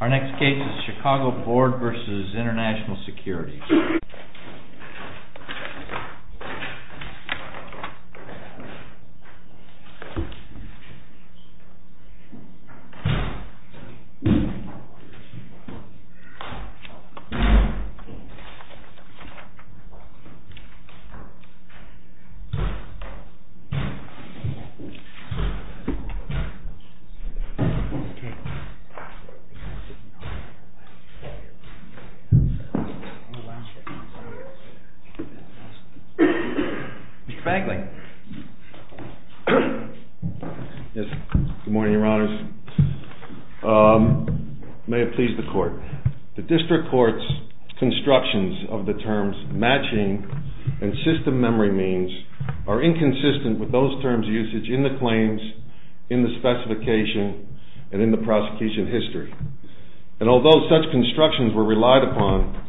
Our next case is CHICAGO BOARD v. INTL SECURITIES. The District Court's constructions of the terms matching and system memory means are inconsistent with those terms' usage in the claims, in the specification, and in the prosecution history. And although such constructions were relied upon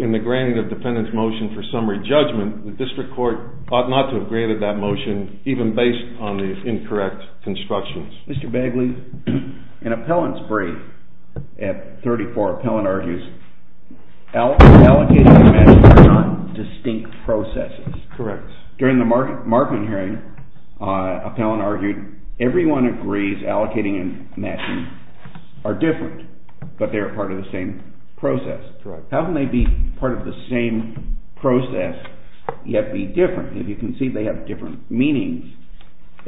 in the granting of defendant's motion for summary judgment, the District Court ought not to have graded that motion even based on the incorrect constructions. Mr. Bagley, in appellant's brief at 34, appellant argues allocating and matching are not distinct processes. Correct. During the Markman hearing, appellant argued everyone agrees allocating and matching are different, but they are part of the same process. Correct. How can they be part of the same process, yet be different? If you can see they have different meanings,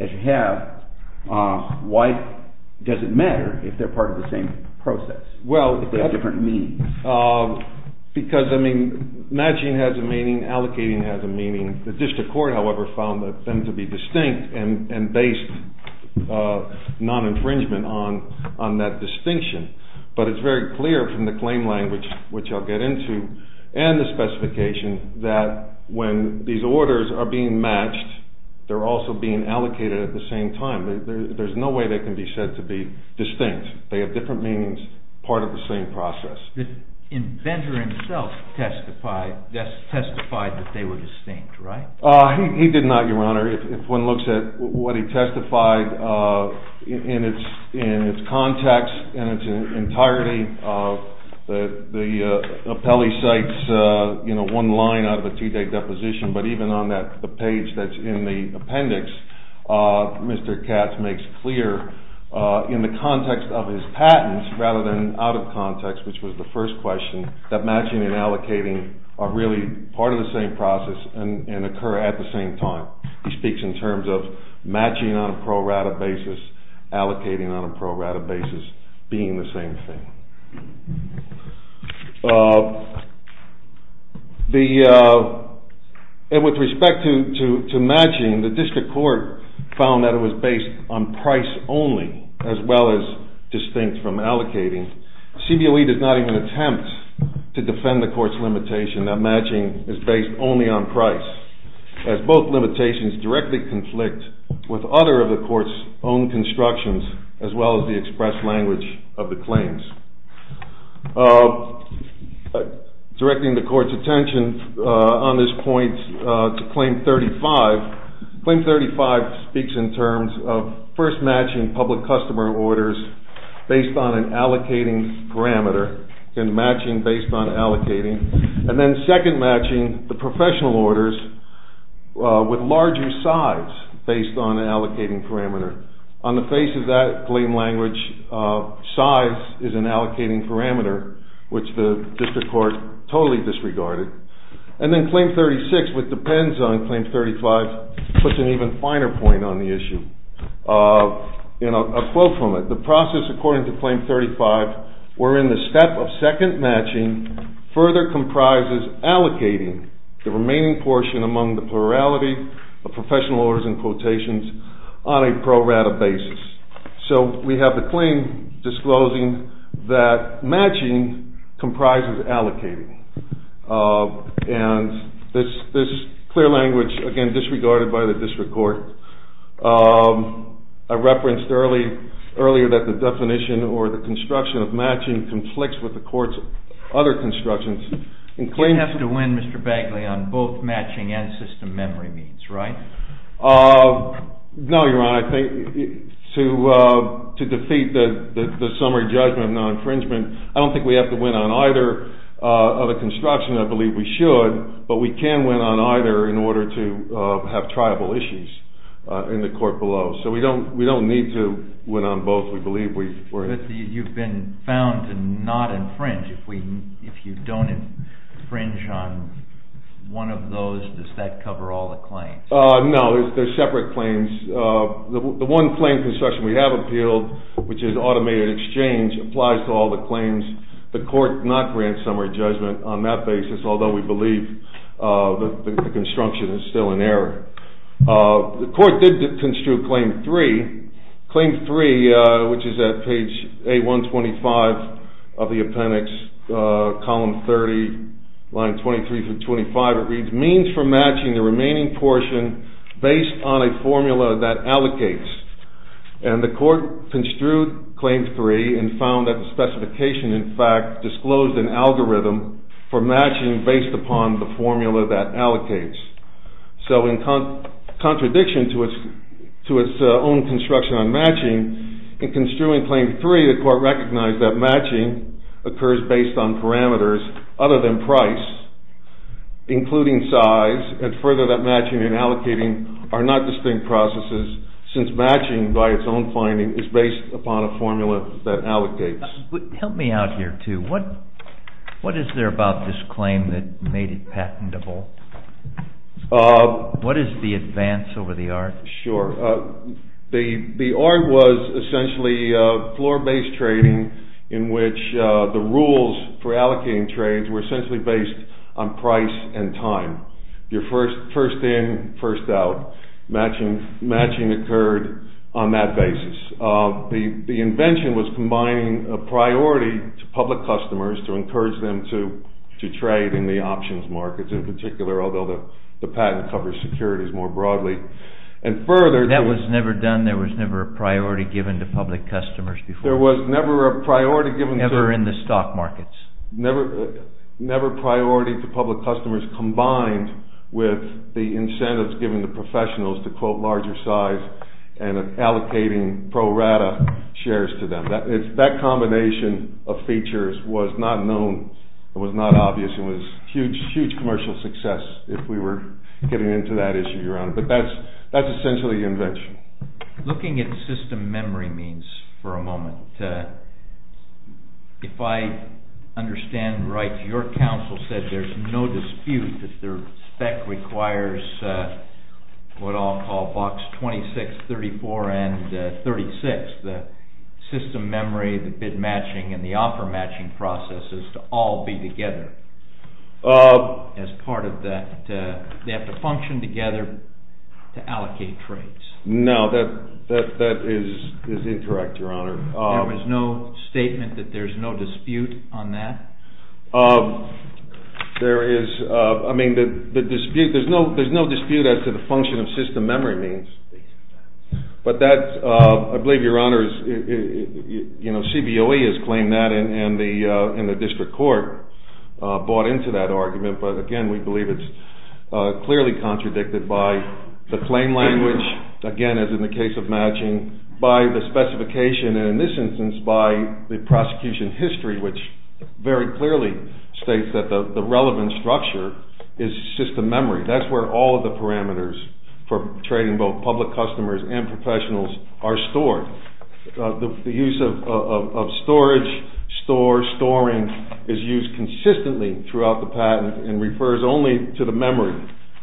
as you have, why does it matter if they're part of the same process, if they have different meanings? Because, I mean, matching has a meaning, allocating has a meaning. The District Court, however, found them to be distinct and based non-infringement on that distinction. But it's very clear from the claim language, which I'll get into, and the specification, that when these orders are being matched, they're also being allocated at the same time. There's no way they can be said to be distinct. They have different meanings, part of the same process. The inventor himself testified that they were distinct, right? He did not, Your Honor. If one looks at what he testified in its context and its entirety, the appellee cites one line out of a two-day deposition, but even on the page that's in the appendix, Mr. Katz makes clear in the context of his patents, rather than out of context, which was the first question, that matching and allocating are really part of the same process and occur at the same time. He speaks in terms of matching on a pro-rata basis, allocating on a pro-rata basis, being the same thing. With respect to matching, the district court found that it was based on price only, as well as distinct from allocating. CBOE does not even attempt to defend the court's limitation that matching is based only on price, as both limitations directly conflict with other of the court's own constructions, as well as the express language of the claims. Directing the court's attention on this point to Claim 35, Claim 35 speaks in terms of first matching public customer orders based on an allocating parameter, and matching based on allocating, and then second matching the professional orders with larger size based on an allocating parameter. On the face of that claim language, size is an allocating parameter, which the district court totally disregarded. And then Claim 36, which depends on Claim 35, puts an even finer point on the issue. A quote from it, the process according to Claim 35 wherein the step of second matching further comprises allocating the remaining portion among the plurality of professional orders and quotations on a pro-rata basis. So we have the claim disclosing that matching comprises allocating. And this clear language, again disregarded by the district court. I referenced earlier that the definition or the construction of matching conflicts with the court's other constructions. You have to win, Mr. Bagley, on both matching and system memory means, right? No, Your Honor. I think to defeat the summary judgment of non-infringement, I don't think we have to win on either of the constructions. I believe we should, but we can win on either in order to have triable issues in the court below. So we don't need to win on both. You've been found to not infringe. If you don't infringe on one of those, does that cover all the claims? No, they're separate claims. The one claim construction we have appealed, which is automated exchange, applies to all the claims. The court did not grant summary judgment on that basis, although we believe the construction is still in error. The court did construe Claim 3, which is at page 8125 of the appendix, column 30, line 23 through 25. It reads, means for matching the remaining portion based on a formula that allocates. And the court construed Claim 3 and found that the specification, in fact, disclosed an algorithm for matching based upon the formula that allocates. So in contradiction to its own construction on matching, in construing Claim 3, the court recognized that matching occurs based on parameters other than price, including size, and further that matching and allocating are not distinct processes since matching, by its own finding, is based upon a formula that allocates. Help me out here, too. What is there about this claim that made it patentable? What is the advance over the art? That was never done. There was never a priority given to public customers before. Never in the stock markets. Never priority to public customers combined with the incentives given to professionals to quote larger size and allocating pro rata shares to them. That combination of features was not known, was not obvious, and was a huge commercial success if we were getting into that issue, Your Honor. But that's essentially the invention. Looking at system memory means for a moment, if I understand right, your counsel said there's no dispute that their spec requires what I'll call blocks 26, 34, and 36, the system memory, the bid matching, and the offer matching processes to all be together. As part of that, they have to function together to allocate trades. No, that is incorrect, Your Honor. There was no statement that there's no dispute on that? There's no dispute as to the function of system memory means. But that, I believe, Your Honor, CBOE has claimed that and the district court bought into that argument. But again, we believe it's clearly contradicted by the claim language, again, as in the case of matching, by the specification, and in this instance, by the prosecution history, which very clearly states that the relevant structure is system memory. That's where all of the parameters for trading both public customers and professionals are stored. The use of storage, store, storing is used consistently throughout the patent and refers only to the memory,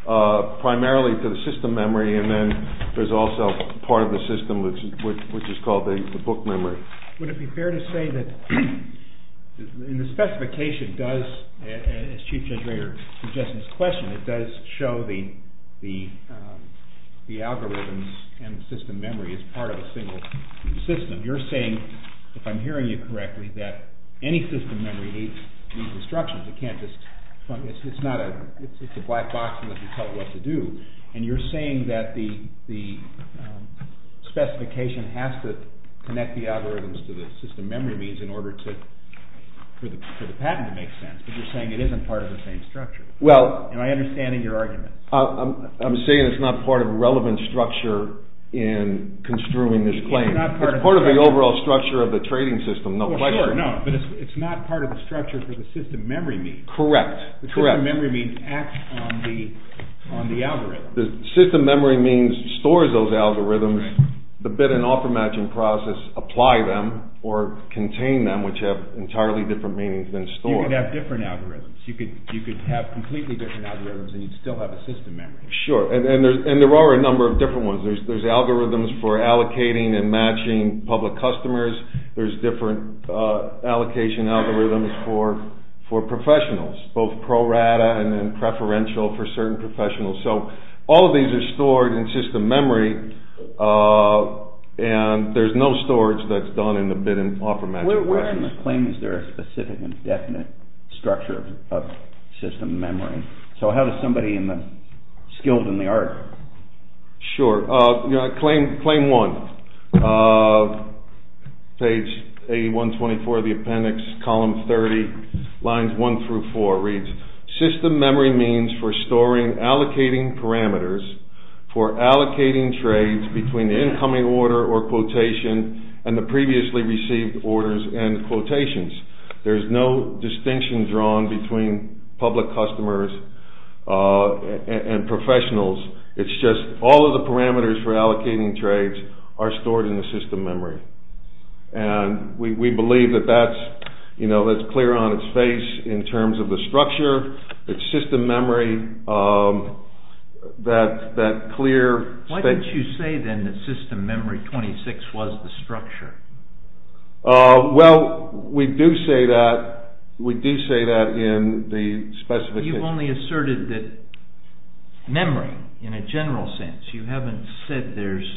primarily to the system memory, and then there's also part of the system, which is called the book memory. Would it be fair to say that the specification does, as Chief Judge Rader suggested in his question, it does show the algorithms and the system memory as part of a single system. You're saying, if I'm hearing you correctly, that any system memory needs instructions. It's a black box unless you tell it what to do. And you're saying that the specification has to connect the algorithms to the system memory means in order for the patent to make sense, but you're saying it isn't part of the same structure. Am I understanding your argument? I'm saying it's not part of a relevant structure in construing this claim. It's part of the overall structure of the trading system, no question. But it's not part of the structure for the system memory means. Correct. The system memory means acts on the algorithm. The system memory means stores those algorithms. The bid and offer matching process apply them or contain them, which have entirely different meanings than store. You could have different algorithms. You could have completely different algorithms and you'd still have a system memory. Sure, and there are a number of different ones. There's algorithms for allocating and matching public customers. There's different allocation algorithms for professionals, both pro rata and preferential for certain professionals. So all of these are stored in system memory and there's no storage that's done in the bid and offer matching way. We're asking the claim, is there a specific and definite structure of system memory? So how does somebody skilled in the art? Sure. Claim one, page 8124 of the appendix, column 30, lines one through four reads, system memory means for storing allocating parameters for allocating trades between the incoming order or quotation and the previously received orders and quotations. There's no distinction drawn between public customers and professionals. It's just all of the parameters for allocating trades are stored in the system memory. And we believe that that's, you know, that's clear on its face in terms of the structure. It's system memory that clear. Why don't you say then that system memory 26 was the structure? Well, we do say that. We do say that in the specification. You've only asserted that memory in a general sense. You haven't said there's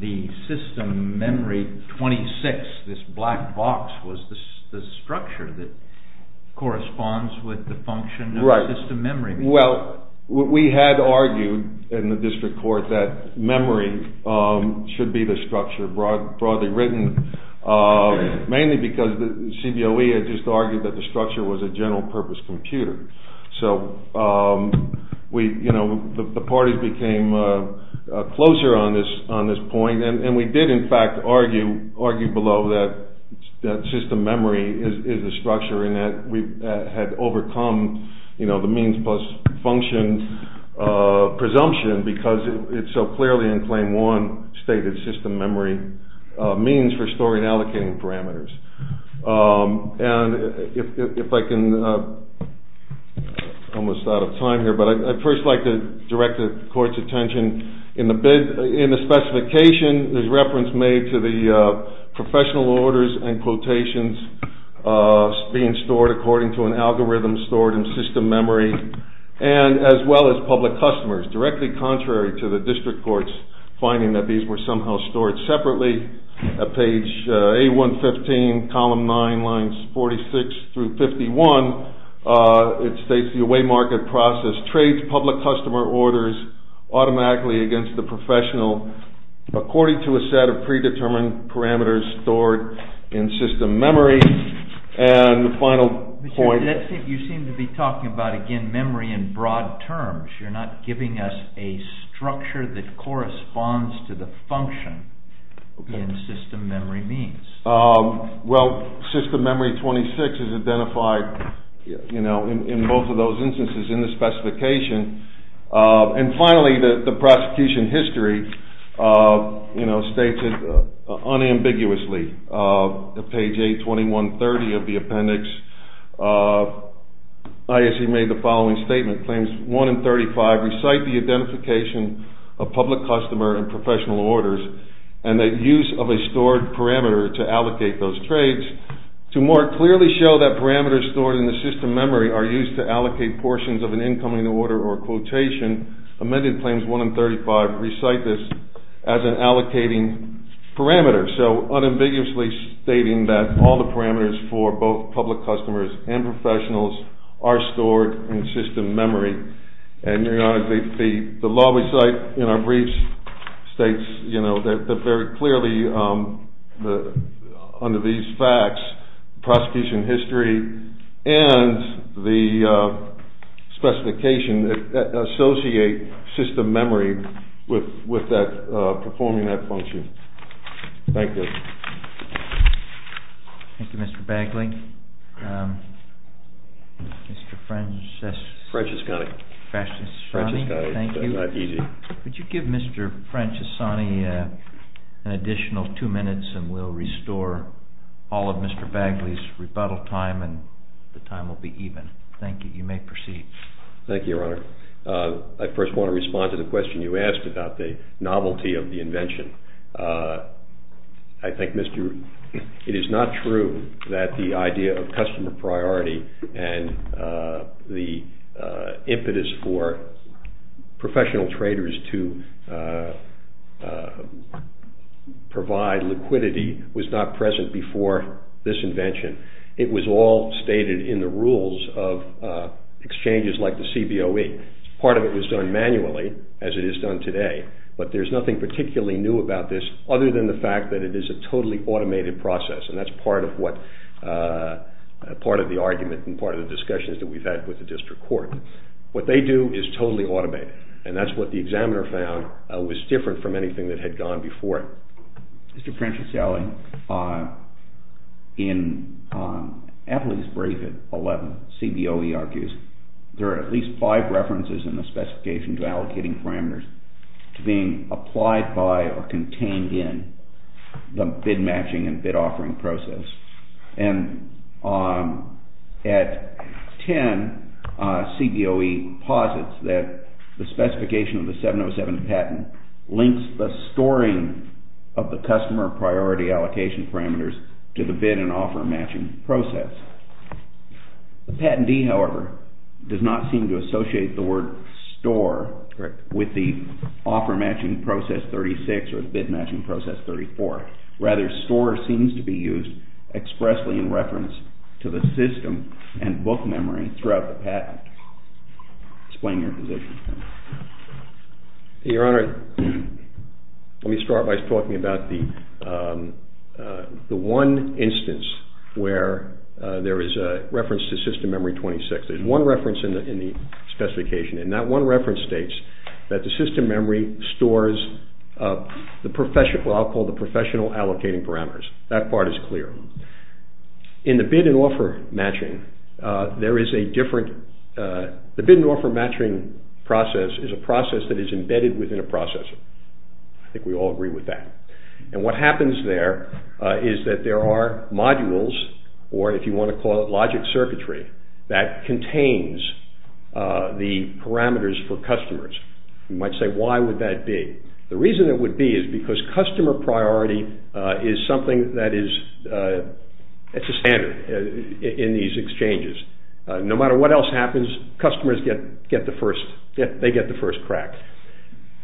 the system memory 26. This black box was the structure that corresponds with the function of system memory. Well, we had argued in the district court that memory should be the structure broadly written, mainly because the CBOE had just argued that the structure was a general purpose computer. So, you know, the parties became closer on this point. And we did, in fact, argue below that system memory is a structure in that we had overcome, you know, the means plus function presumption because it so clearly in claim one stated system memory means for storing allocating parameters. And if I can, I'm almost out of time here, but I'd first like to direct the court's attention. In the bid, in the specification, there's reference made to the professional orders and quotations being stored according to an algorithm stored in system memory. And as well as public customers directly contrary to the district court's finding that these were somehow stored separately. Page A115, column nine, lines 46 through 51. It states the away market process trades public customer orders automatically against the professional according to a set of predetermined parameters stored in system memory. And the final point. You seem to be talking about, again, memory in broad terms. You're not giving us a structure that corresponds to the function in system memory means. Well, system memory 26 is identified, you know, in both of those instances in the specification. And finally, the prosecution history, you know, states it unambiguously. Page A2130 of the appendix, ISC made the following statement. Recite the identification of public customer and professional orders and the use of a stored parameter to allocate those trades. To more clearly show that parameters stored in the system memory are used to allocate portions of an incoming order or quotation, amended claims 1 and 35 recite this as an allocating parameter. So unambiguously stating that all the parameters for both public customers and professionals are stored in system memory. And, Your Honor, the law we cite in our briefs states, you know, that very clearly under these facts, prosecution history and the specification associate system memory with that performing that function. Thank you. Thank you, Mr. Bagley. Mr. Francesconi, could you give Mr. Francesconi an additional two minutes and we'll restore all of Mr. Bagley's rebuttal time and the time will be even. Thank you. You may proceed. Thank you, Your Honor. I first want to respond to the question you asked about the novelty of the invention. I think it is not true that the idea of customer priority and the impetus for professional traders to provide liquidity was not present before this invention. It was all stated in the rules of exchanges like the CBOE. Part of it was done manually, as it is done today, but there's nothing particularly new about this other than the fact that it is a totally automated process. And that's part of what, part of the argument and part of the discussions that we've had with the district court. What they do is totally automated. And that's what the examiner found was different from anything that had gone before it. Mr. Francesconi, in Appley's brief at 11, CBOE argues there are at least five references in the specification to allocating parameters to being applied by or contained in the bid matching and bid offering process. And at 10, CBOE posits that the specification of the 707 patent links the storing of the customer priority allocation parameters to the bid and offer matching process. The patentee, however, does not seem to associate the word store with the offer matching process 36 or the bid matching process 34. Rather, store seems to be used expressly in reference to the system and book memory throughout the patent. Explain your position. Your Honor, let me start by talking about the one instance where there is a reference to system memory 26. There's one reference in the specification and that one reference states that the system memory stores the professional, what I'll call the professional allocating parameters. That part is clear. In the bid and offer matching, there is a different, the bid and offer matching process is a process that is embedded within a process. I think we all agree with that. And what happens there is that there are modules or if you want to call it logic circuitry that contains the parameters for customers. You might say, why would that be? The reason it would be is because customer priority is something that is, it's a standard in these exchanges. No matter what else happens, customers get the first, they get the first crack.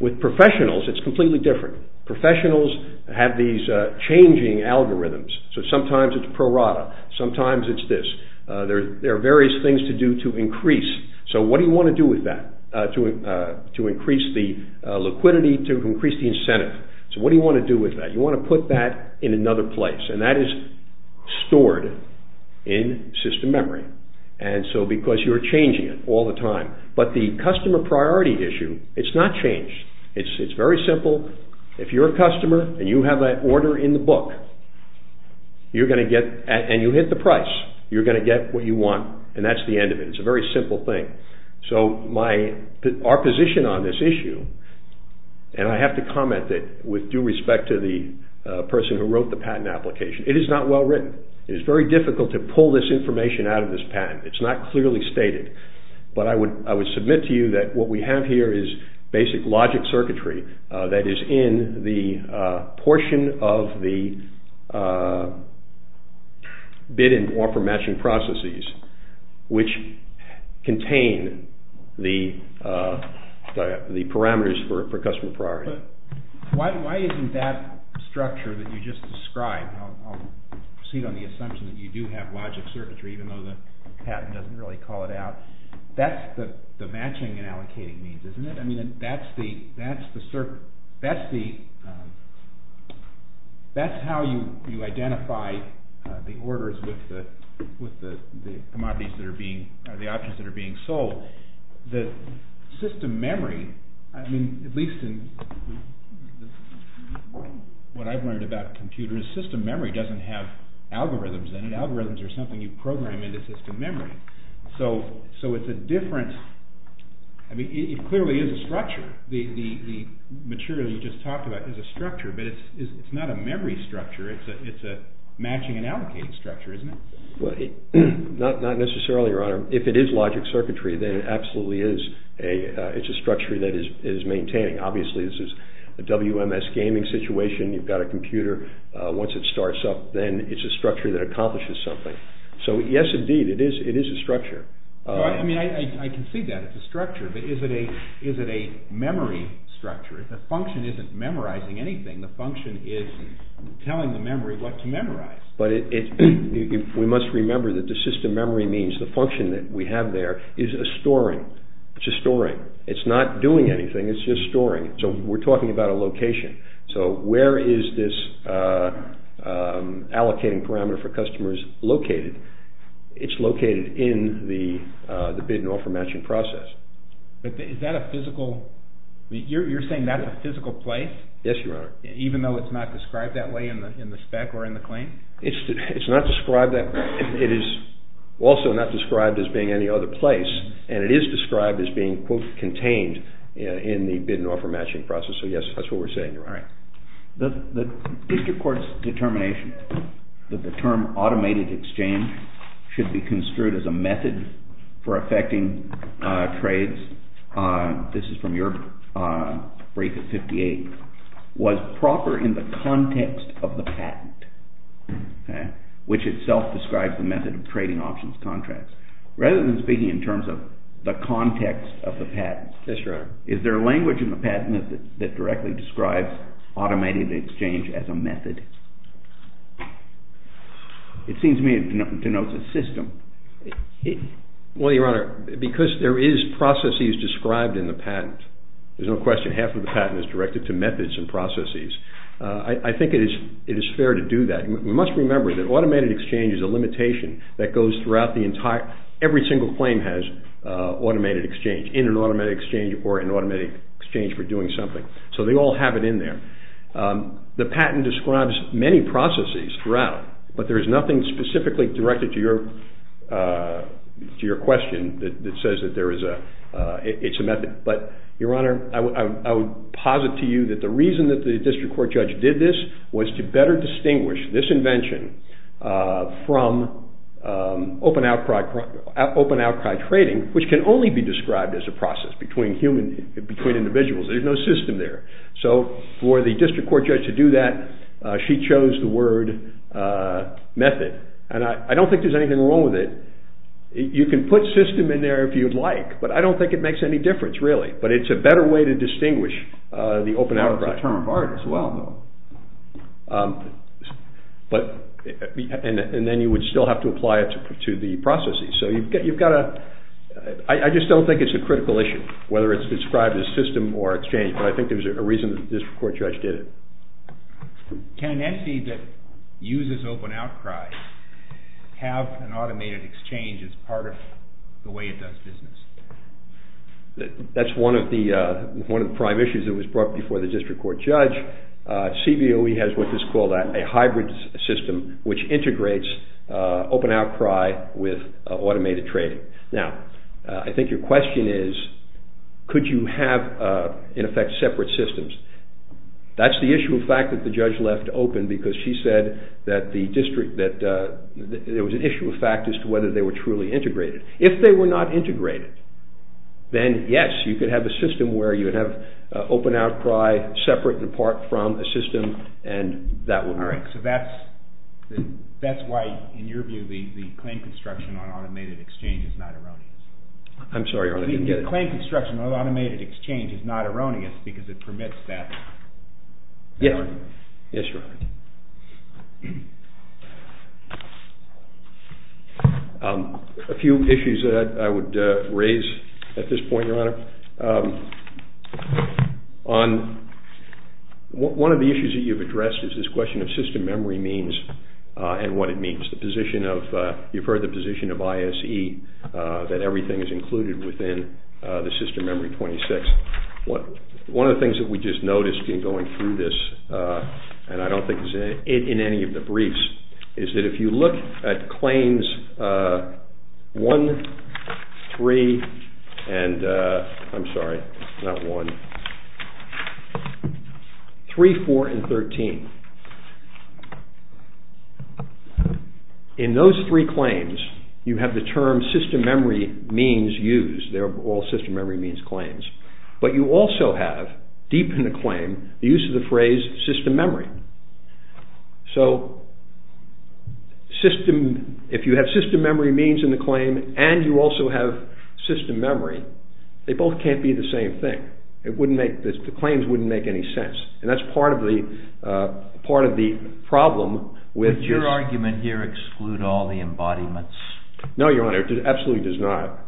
With professionals, it's completely different. Professionals have these changing algorithms. So, sometimes it's prorata, sometimes it's this. There are various things to do to increase. So, what do you want to do with that to increase the liquidity, to increase the incentive? So, what do you want to do with that? You want to put that in another place and that is stored in system memory. And so, because you're changing it all the time. But the customer priority issue, it's not changed. It's very simple. If you're a customer and you have that order in the book, you're going to get, and you hit the price, you're going to get what you want. And that's the end of it. It's a very simple thing. So, our position on this issue, and I have to comment that with due respect to the person who wrote the patent application, it is not well written. It is very difficult to pull this information out of this patent. It's not clearly stated. But I would submit to you that what we have here is basic logic circuitry that is in the portion of the bid and offer matching processes, which contain the parameters for customer priority. But why isn't that structure that you just described, I'll proceed on the assumption that you do have logic circuitry, even though the patent doesn't really call it out. That's the matching and allocating needs, isn't it? I mean, that's the, that's how you identify the orders with the commodities that are being, or the options that are being sold. The system memory, I mean, at least in what I've learned about computers, system memory doesn't have algorithms in it. Algorithms are something you program into system memory. So, it's a different, I mean, it clearly is a structure. The material you just talked about is a structure, but it's not a memory structure. It's a matching and allocating structure, isn't it? Well, not necessarily, Your Honor. If it is logic circuitry, then it absolutely is a, it's a structure that is maintaining. Obviously, this is a WMS gaming situation. You've got a computer. Once it starts up, then it's a structure that accomplishes something. So, yes, indeed, it is, it is a structure. I mean, I can see that. It's a structure. But is it a, is it a memory structure? The function isn't memorizing anything. The function is telling the memory what to memorize. But we must remember that the system memory means the function that we have there is a storing. It's a storing. It's not doing anything. It's just storing. So, we're talking about a location. So, where is this allocating parameter for customers located? It's located in the bid and offer matching process. But is that a physical, you're saying that's a physical place? Yes, Your Honor. Even though it's not described that way in the spec or in the claim? It's not described that way. It is also not described as being any other place. And it is described as being, quote, contained in the bid and offer matching process. So, yes, that's what we're saying, Your Honor. All right. The district court's determination that the term automated exchange should be construed as a method for affecting trades, this is from your brief at 58, was proper in the context of the patent, which itself describes the method of trading options contracts. Rather than speaking in terms of the context of the patent, is there language in the patent that directly describes automated exchange as a method? Well, Your Honor, because there is processes described in the patent, there's no question half of the patent is directed to methods and processes. I think it is fair to do that. We must remember that automated exchange is a limitation that goes throughout the entire, every single claim has automated exchange, in an automated exchange or an automated exchange for doing something. So, they all have it in there. The patent describes many processes throughout, but there is nothing specifically directed to your question that says that it's a method. But, Your Honor, I would posit to you that the reason that the district court judge did this was to better distinguish this invention from open outcry trading, which can only be described as a process between individuals. There's no system there. So, for the district court judge to do that, she chose the word method. And I don't think there's anything wrong with it. You can put system in there if you'd like, but I don't think it makes any difference, really. But it's a better way to distinguish the open outcry. Now it's a term of art as well, though. But, and then you would still have to apply it to the processes. So, you've got to, I just don't think it's a critical issue, whether it's described as system or exchange. But I think there's a reason that the district court judge did it. Can an entity that uses open outcry have an automated exchange as part of the way it does business? That's one of the prime issues that was brought before the district court judge. CBOE has what is called a hybrid system, which integrates open outcry with automated trading. Now, I think your question is, could you have, in effect, separate systems? That's the issue of fact that the judge left open, because she said that there was an issue of fact as to whether they were truly integrated. If they were not integrated, then yes, you could have a system where you would have open outcry separate and apart from the system, and that would work. So that's why, in your view, the claim construction on automated exchange is not erroneous. I'm sorry, Your Honor, I didn't get it. The claim construction on automated exchange is not erroneous because it permits that. Yes, yes, Your Honor. A few issues that I would raise at this point, Your Honor. One of the issues that you've addressed is this question of system memory means and what it means. You've heard the position of ISE, that everything is included within the system memory 26. One of the things that we just noticed in going through this, and I don't think it's in any of the briefs, is that if you look at claims 1, 3, and, I'm sorry, not 1, 3, 4, and 13. In those three claims, you have the term system memory means used. They're all system memory means claims. But you also have, deep in the claim, the use of the phrase system memory. So, if you have system memory means in the claim and you also have system memory, they both can't be the same thing. The claims wouldn't make any sense. And that's part of the problem. Would your argument here exclude all the embodiments? No, Your Honor, it absolutely does not.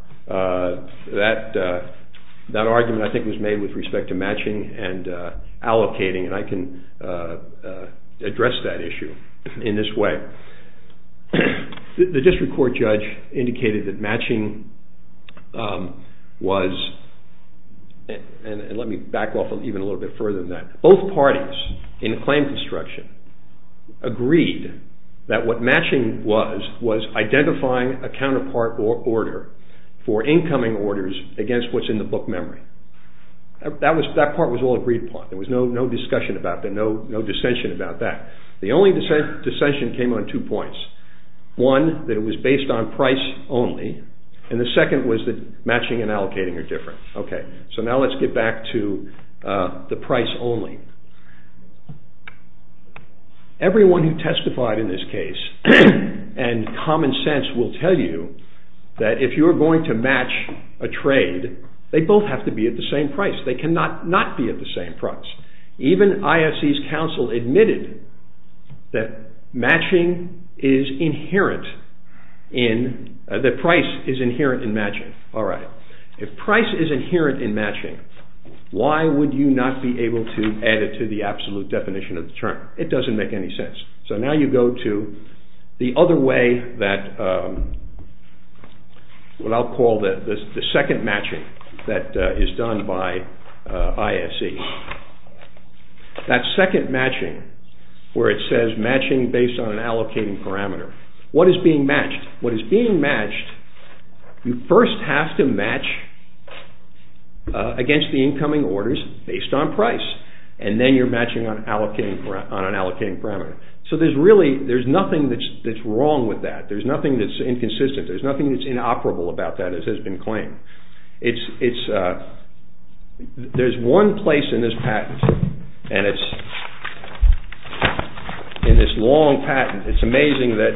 That argument, I think, was made with respect to matching and allocating. And I can address that issue in this way. The district court judge indicated that matching was, and let me back off even a little bit further than that, both parties in claim construction agreed that what matching was was identifying a counterpart order for incoming orders against what's in the book memory. That part was all agreed upon. There was no discussion about that, no dissension about that. The only dissension came on two points. One, that it was based on price only. And the second was that matching and allocating are different. So now let's get back to the price only. Everyone who testified in this case and common sense will tell you that if you're going to match a trade, they both have to be at the same price. They cannot not be at the same price. Even IFC's counsel admitted that price is inherent in matching. If price is inherent in matching, why would you not be able to add it to the absolute definition of the term? It doesn't make any sense. So now you go to the other way that, what I'll call the second matching that is done by IFC. That second matching where it says matching based on an allocating parameter. What is being matched? What is being matched, you first have to match against the incoming orders based on price. And then you're matching on an allocating parameter. So there's really, there's nothing that's wrong with that. There's nothing that's inconsistent. There's nothing that's inoperable about that as has been claimed. It's, there's one place in this patent and it's, in this long patent, it's amazing that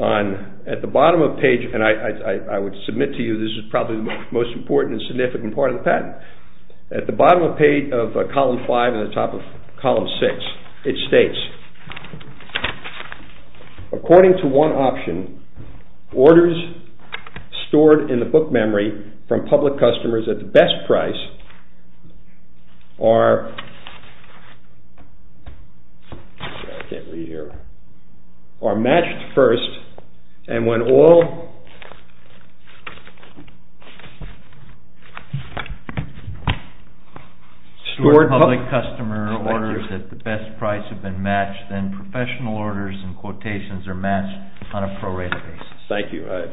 on, at the bottom of page, and I would submit to you this is probably the most important and significant part of the patent. At the bottom of page of column 5 and the top of column 6, it states, according to one option, orders stored in the book memory from public customers at the best price are, I can't read here, are matched first. And when all stored public customer orders at the best price have been matched, then professional orders and quotations are matched on a prorated basis. Thank you. I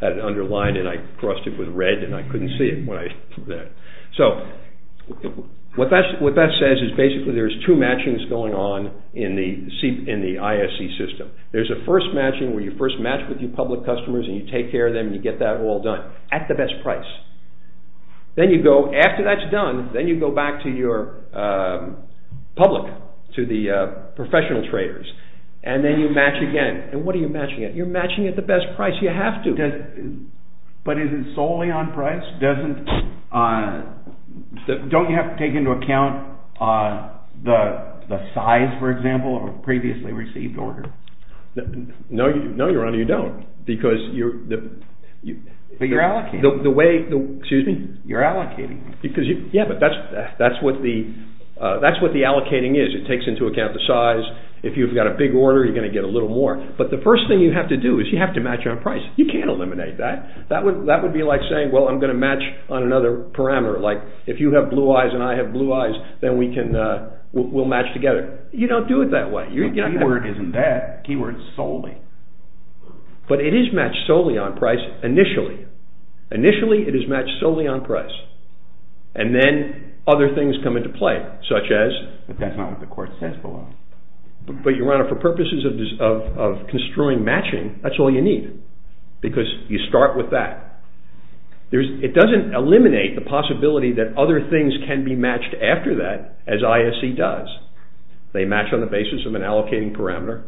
had it underlined and I crossed it with red and I couldn't see it when I did that. So what that says is basically there's two matchings going on in the ISC system. There's a first matching where you first match with your public customers and you take care of them and you get that all done at the best price. Then you go, after that's done, then you go back to your public, to the professional traders, and then you match again. And what are you matching at? You're matching at the best price. You have to. But is it solely on price? Doesn't, don't you have to take into account the size, for example, of a previously received order? No, your honor, you don't. But you're allocating. Excuse me? You're allocating. Yeah, but that's what the allocating is. It takes into account the size. If you've got a big order, you're going to get a little more. But the first thing you have to do is you have to match on price. You can't eliminate that. That would be like saying, well, I'm going to match on another parameter. Like, if you have blue eyes and I have blue eyes, then we'll match together. You don't do it that way. Keyword isn't that. Keyword's solely. But it is matched solely on price initially. Initially, it is matched solely on price. And then other things come into play, such as. But that's not what the court says below. But your honor, for purposes of construing matching, that's all you need. Because you start with that. It doesn't eliminate the possibility that other things can be matched after that, as ISC does. They match on the basis of an allocating parameter.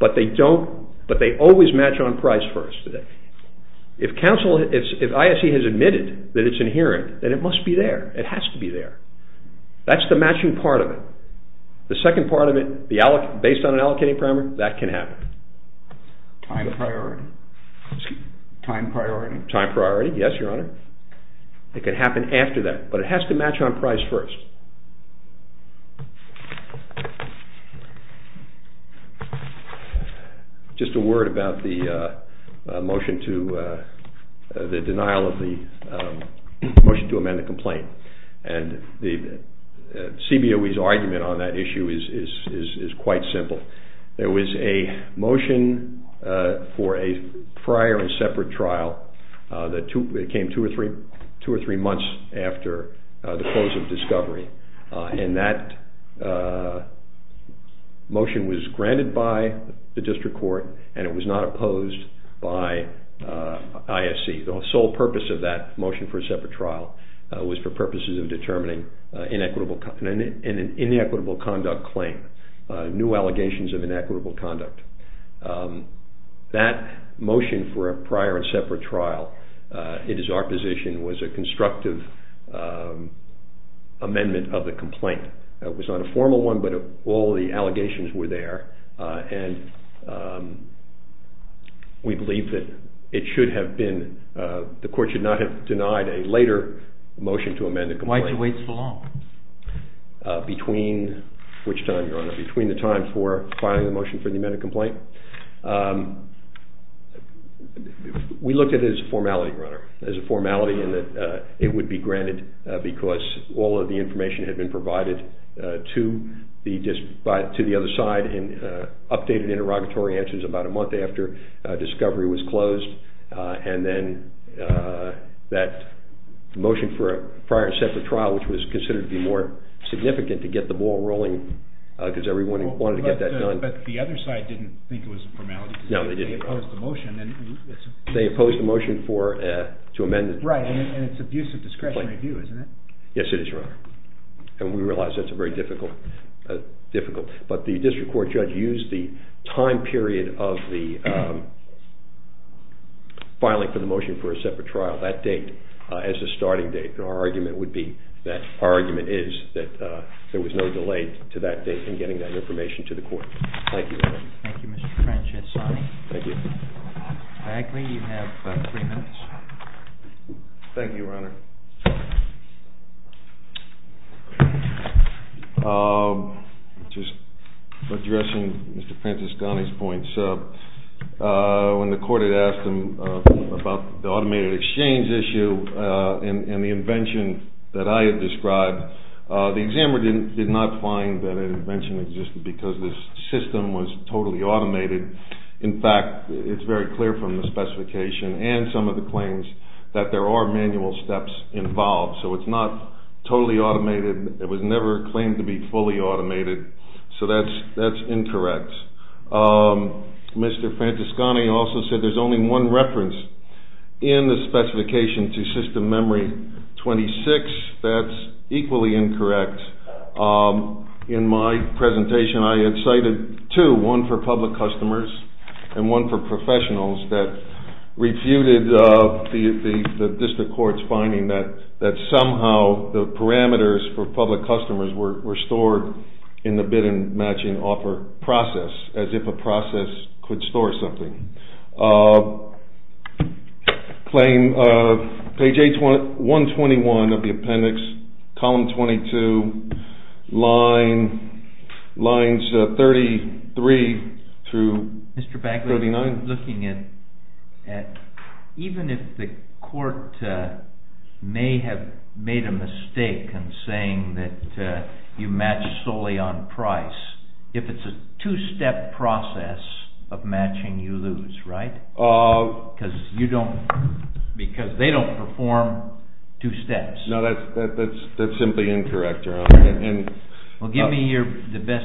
But they don't, but they always match on price first. If ISC has admitted that it's inherent, then it must be there. It has to be there. That's the matching part of it. The second part of it, based on an allocating parameter, that can happen. Time priority. Yes, your honor. It can happen after that. But it has to match on price first. Just a word about the motion to, the denial of the motion to amend the complaint. And the CBOE's argument on that issue is quite simple. There was a motion for a prior and separate trial that came two or three months after the close of discovery. And that motion was granted by the district court, and it was not opposed by ISC. The sole purpose of that motion for a separate trial was for purposes of determining an inequitable conduct claim, new allegations of inequitable conduct. That motion for a prior and separate trial, it is our position, was a constructive amendment of the complaint. It was not a formal one, but all the allegations were there, and we believe that it should have been, the court should not have denied a later motion to amend the complaint. Why two weeks for long? Between which time, your honor? Between the time for filing the motion for the amended complaint? We looked at it as a formality, your honor, as a formality in that it would be granted because all of the information had been provided to the other side and updated interrogatory answers about a month after discovery was closed. And then that motion for a prior and separate trial, which was considered to be more significant to get the ball rolling because everyone wanted to get that done. But the other side didn't think it was a formality. No, they didn't. They opposed the motion. They opposed the motion to amend the complaint. Right, and it's abuse of discretionary view, isn't it? Yes, it is, your honor. And we realize that's very difficult. But the district court judge used the time period of the filing for the motion for a separate trial, that date, as a starting date. Our argument would be that our argument is that there was no delay to that date in getting that information to the court. Thank you. Thank you, Mr. Francesconi. Thank you. Backley, you have three minutes. Thank you, your honor. Just addressing Mr. Francesconi's points, when the court had asked him about the automated exchange issue and the invention that I had described, the examiner did not find that an invention existed because the system was totally automated. In fact, it's very clear from the specification and some of the claims that there are manual steps involved. So it's not totally automated. It was never claimed to be fully automated. So that's incorrect. Mr. Francesconi also said there's only one reference in the specification to system memory 26. That's equally incorrect. In my presentation, I had cited two, one for public customers and one for professionals that refuted the district court's finding that somehow the parameters for public customers were stored in the bid and matching offer process as if a process could store something. Claim page 121 of the appendix, column 22, lines 33 through 39. Mr. Backley, I'm looking at even if the court may have made a mistake in saying that you match solely on price, if it's a two-step process of matching, you lose, right? Because they don't perform two steps. No, that's simply incorrect. Well, give me the best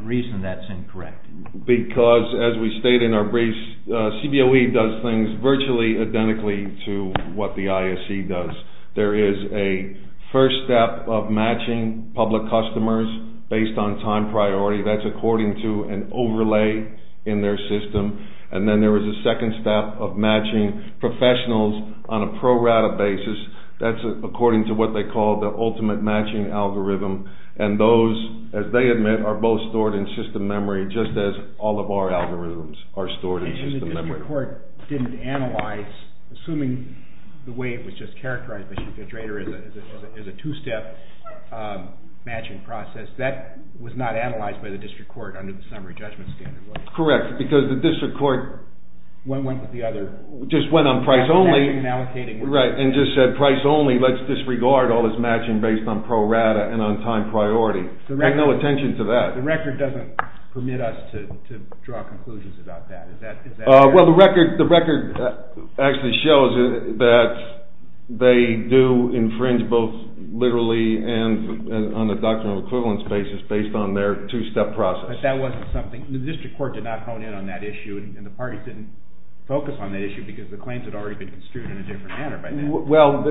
reason that's incorrect. Because as we state in our briefs, CBOE does things virtually identically to what the ISE does. There is a first step of matching public customers based on time priority. That's according to an overlay in their system. And then there is a second step of matching professionals on a pro-rata basis. That's according to what they call the ultimate matching algorithm. And those, as they admit, are both stored in system memory And the District Court didn't analyze, assuming the way it was just characterized by Chief Judge Rader as a two-step matching process, that was not analyzed by the District Court under the summary judgment standard? Correct, because the District Court just went on price only and just said price only, let's disregard all this matching based on pro-rata and on time priority. Pay no attention to that. The record doesn't permit us to draw conclusions about that. Well, the record actually shows that they do infringe both literally and on a doctrinal equivalence basis based on their two-step process. But that wasn't something, the District Court did not hone in on that issue and the parties didn't focus on that issue because the claims had already been construed in a different manner by then. Well,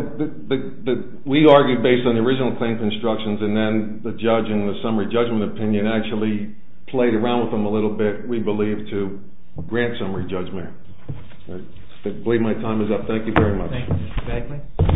we argued based on the original claim constructions and then the judge in the summary judgment opinion actually played around with them a little bit, we believe, to grant summary judgment. I believe my time is up. Thank you very much. Thank you, Mr. Bagley.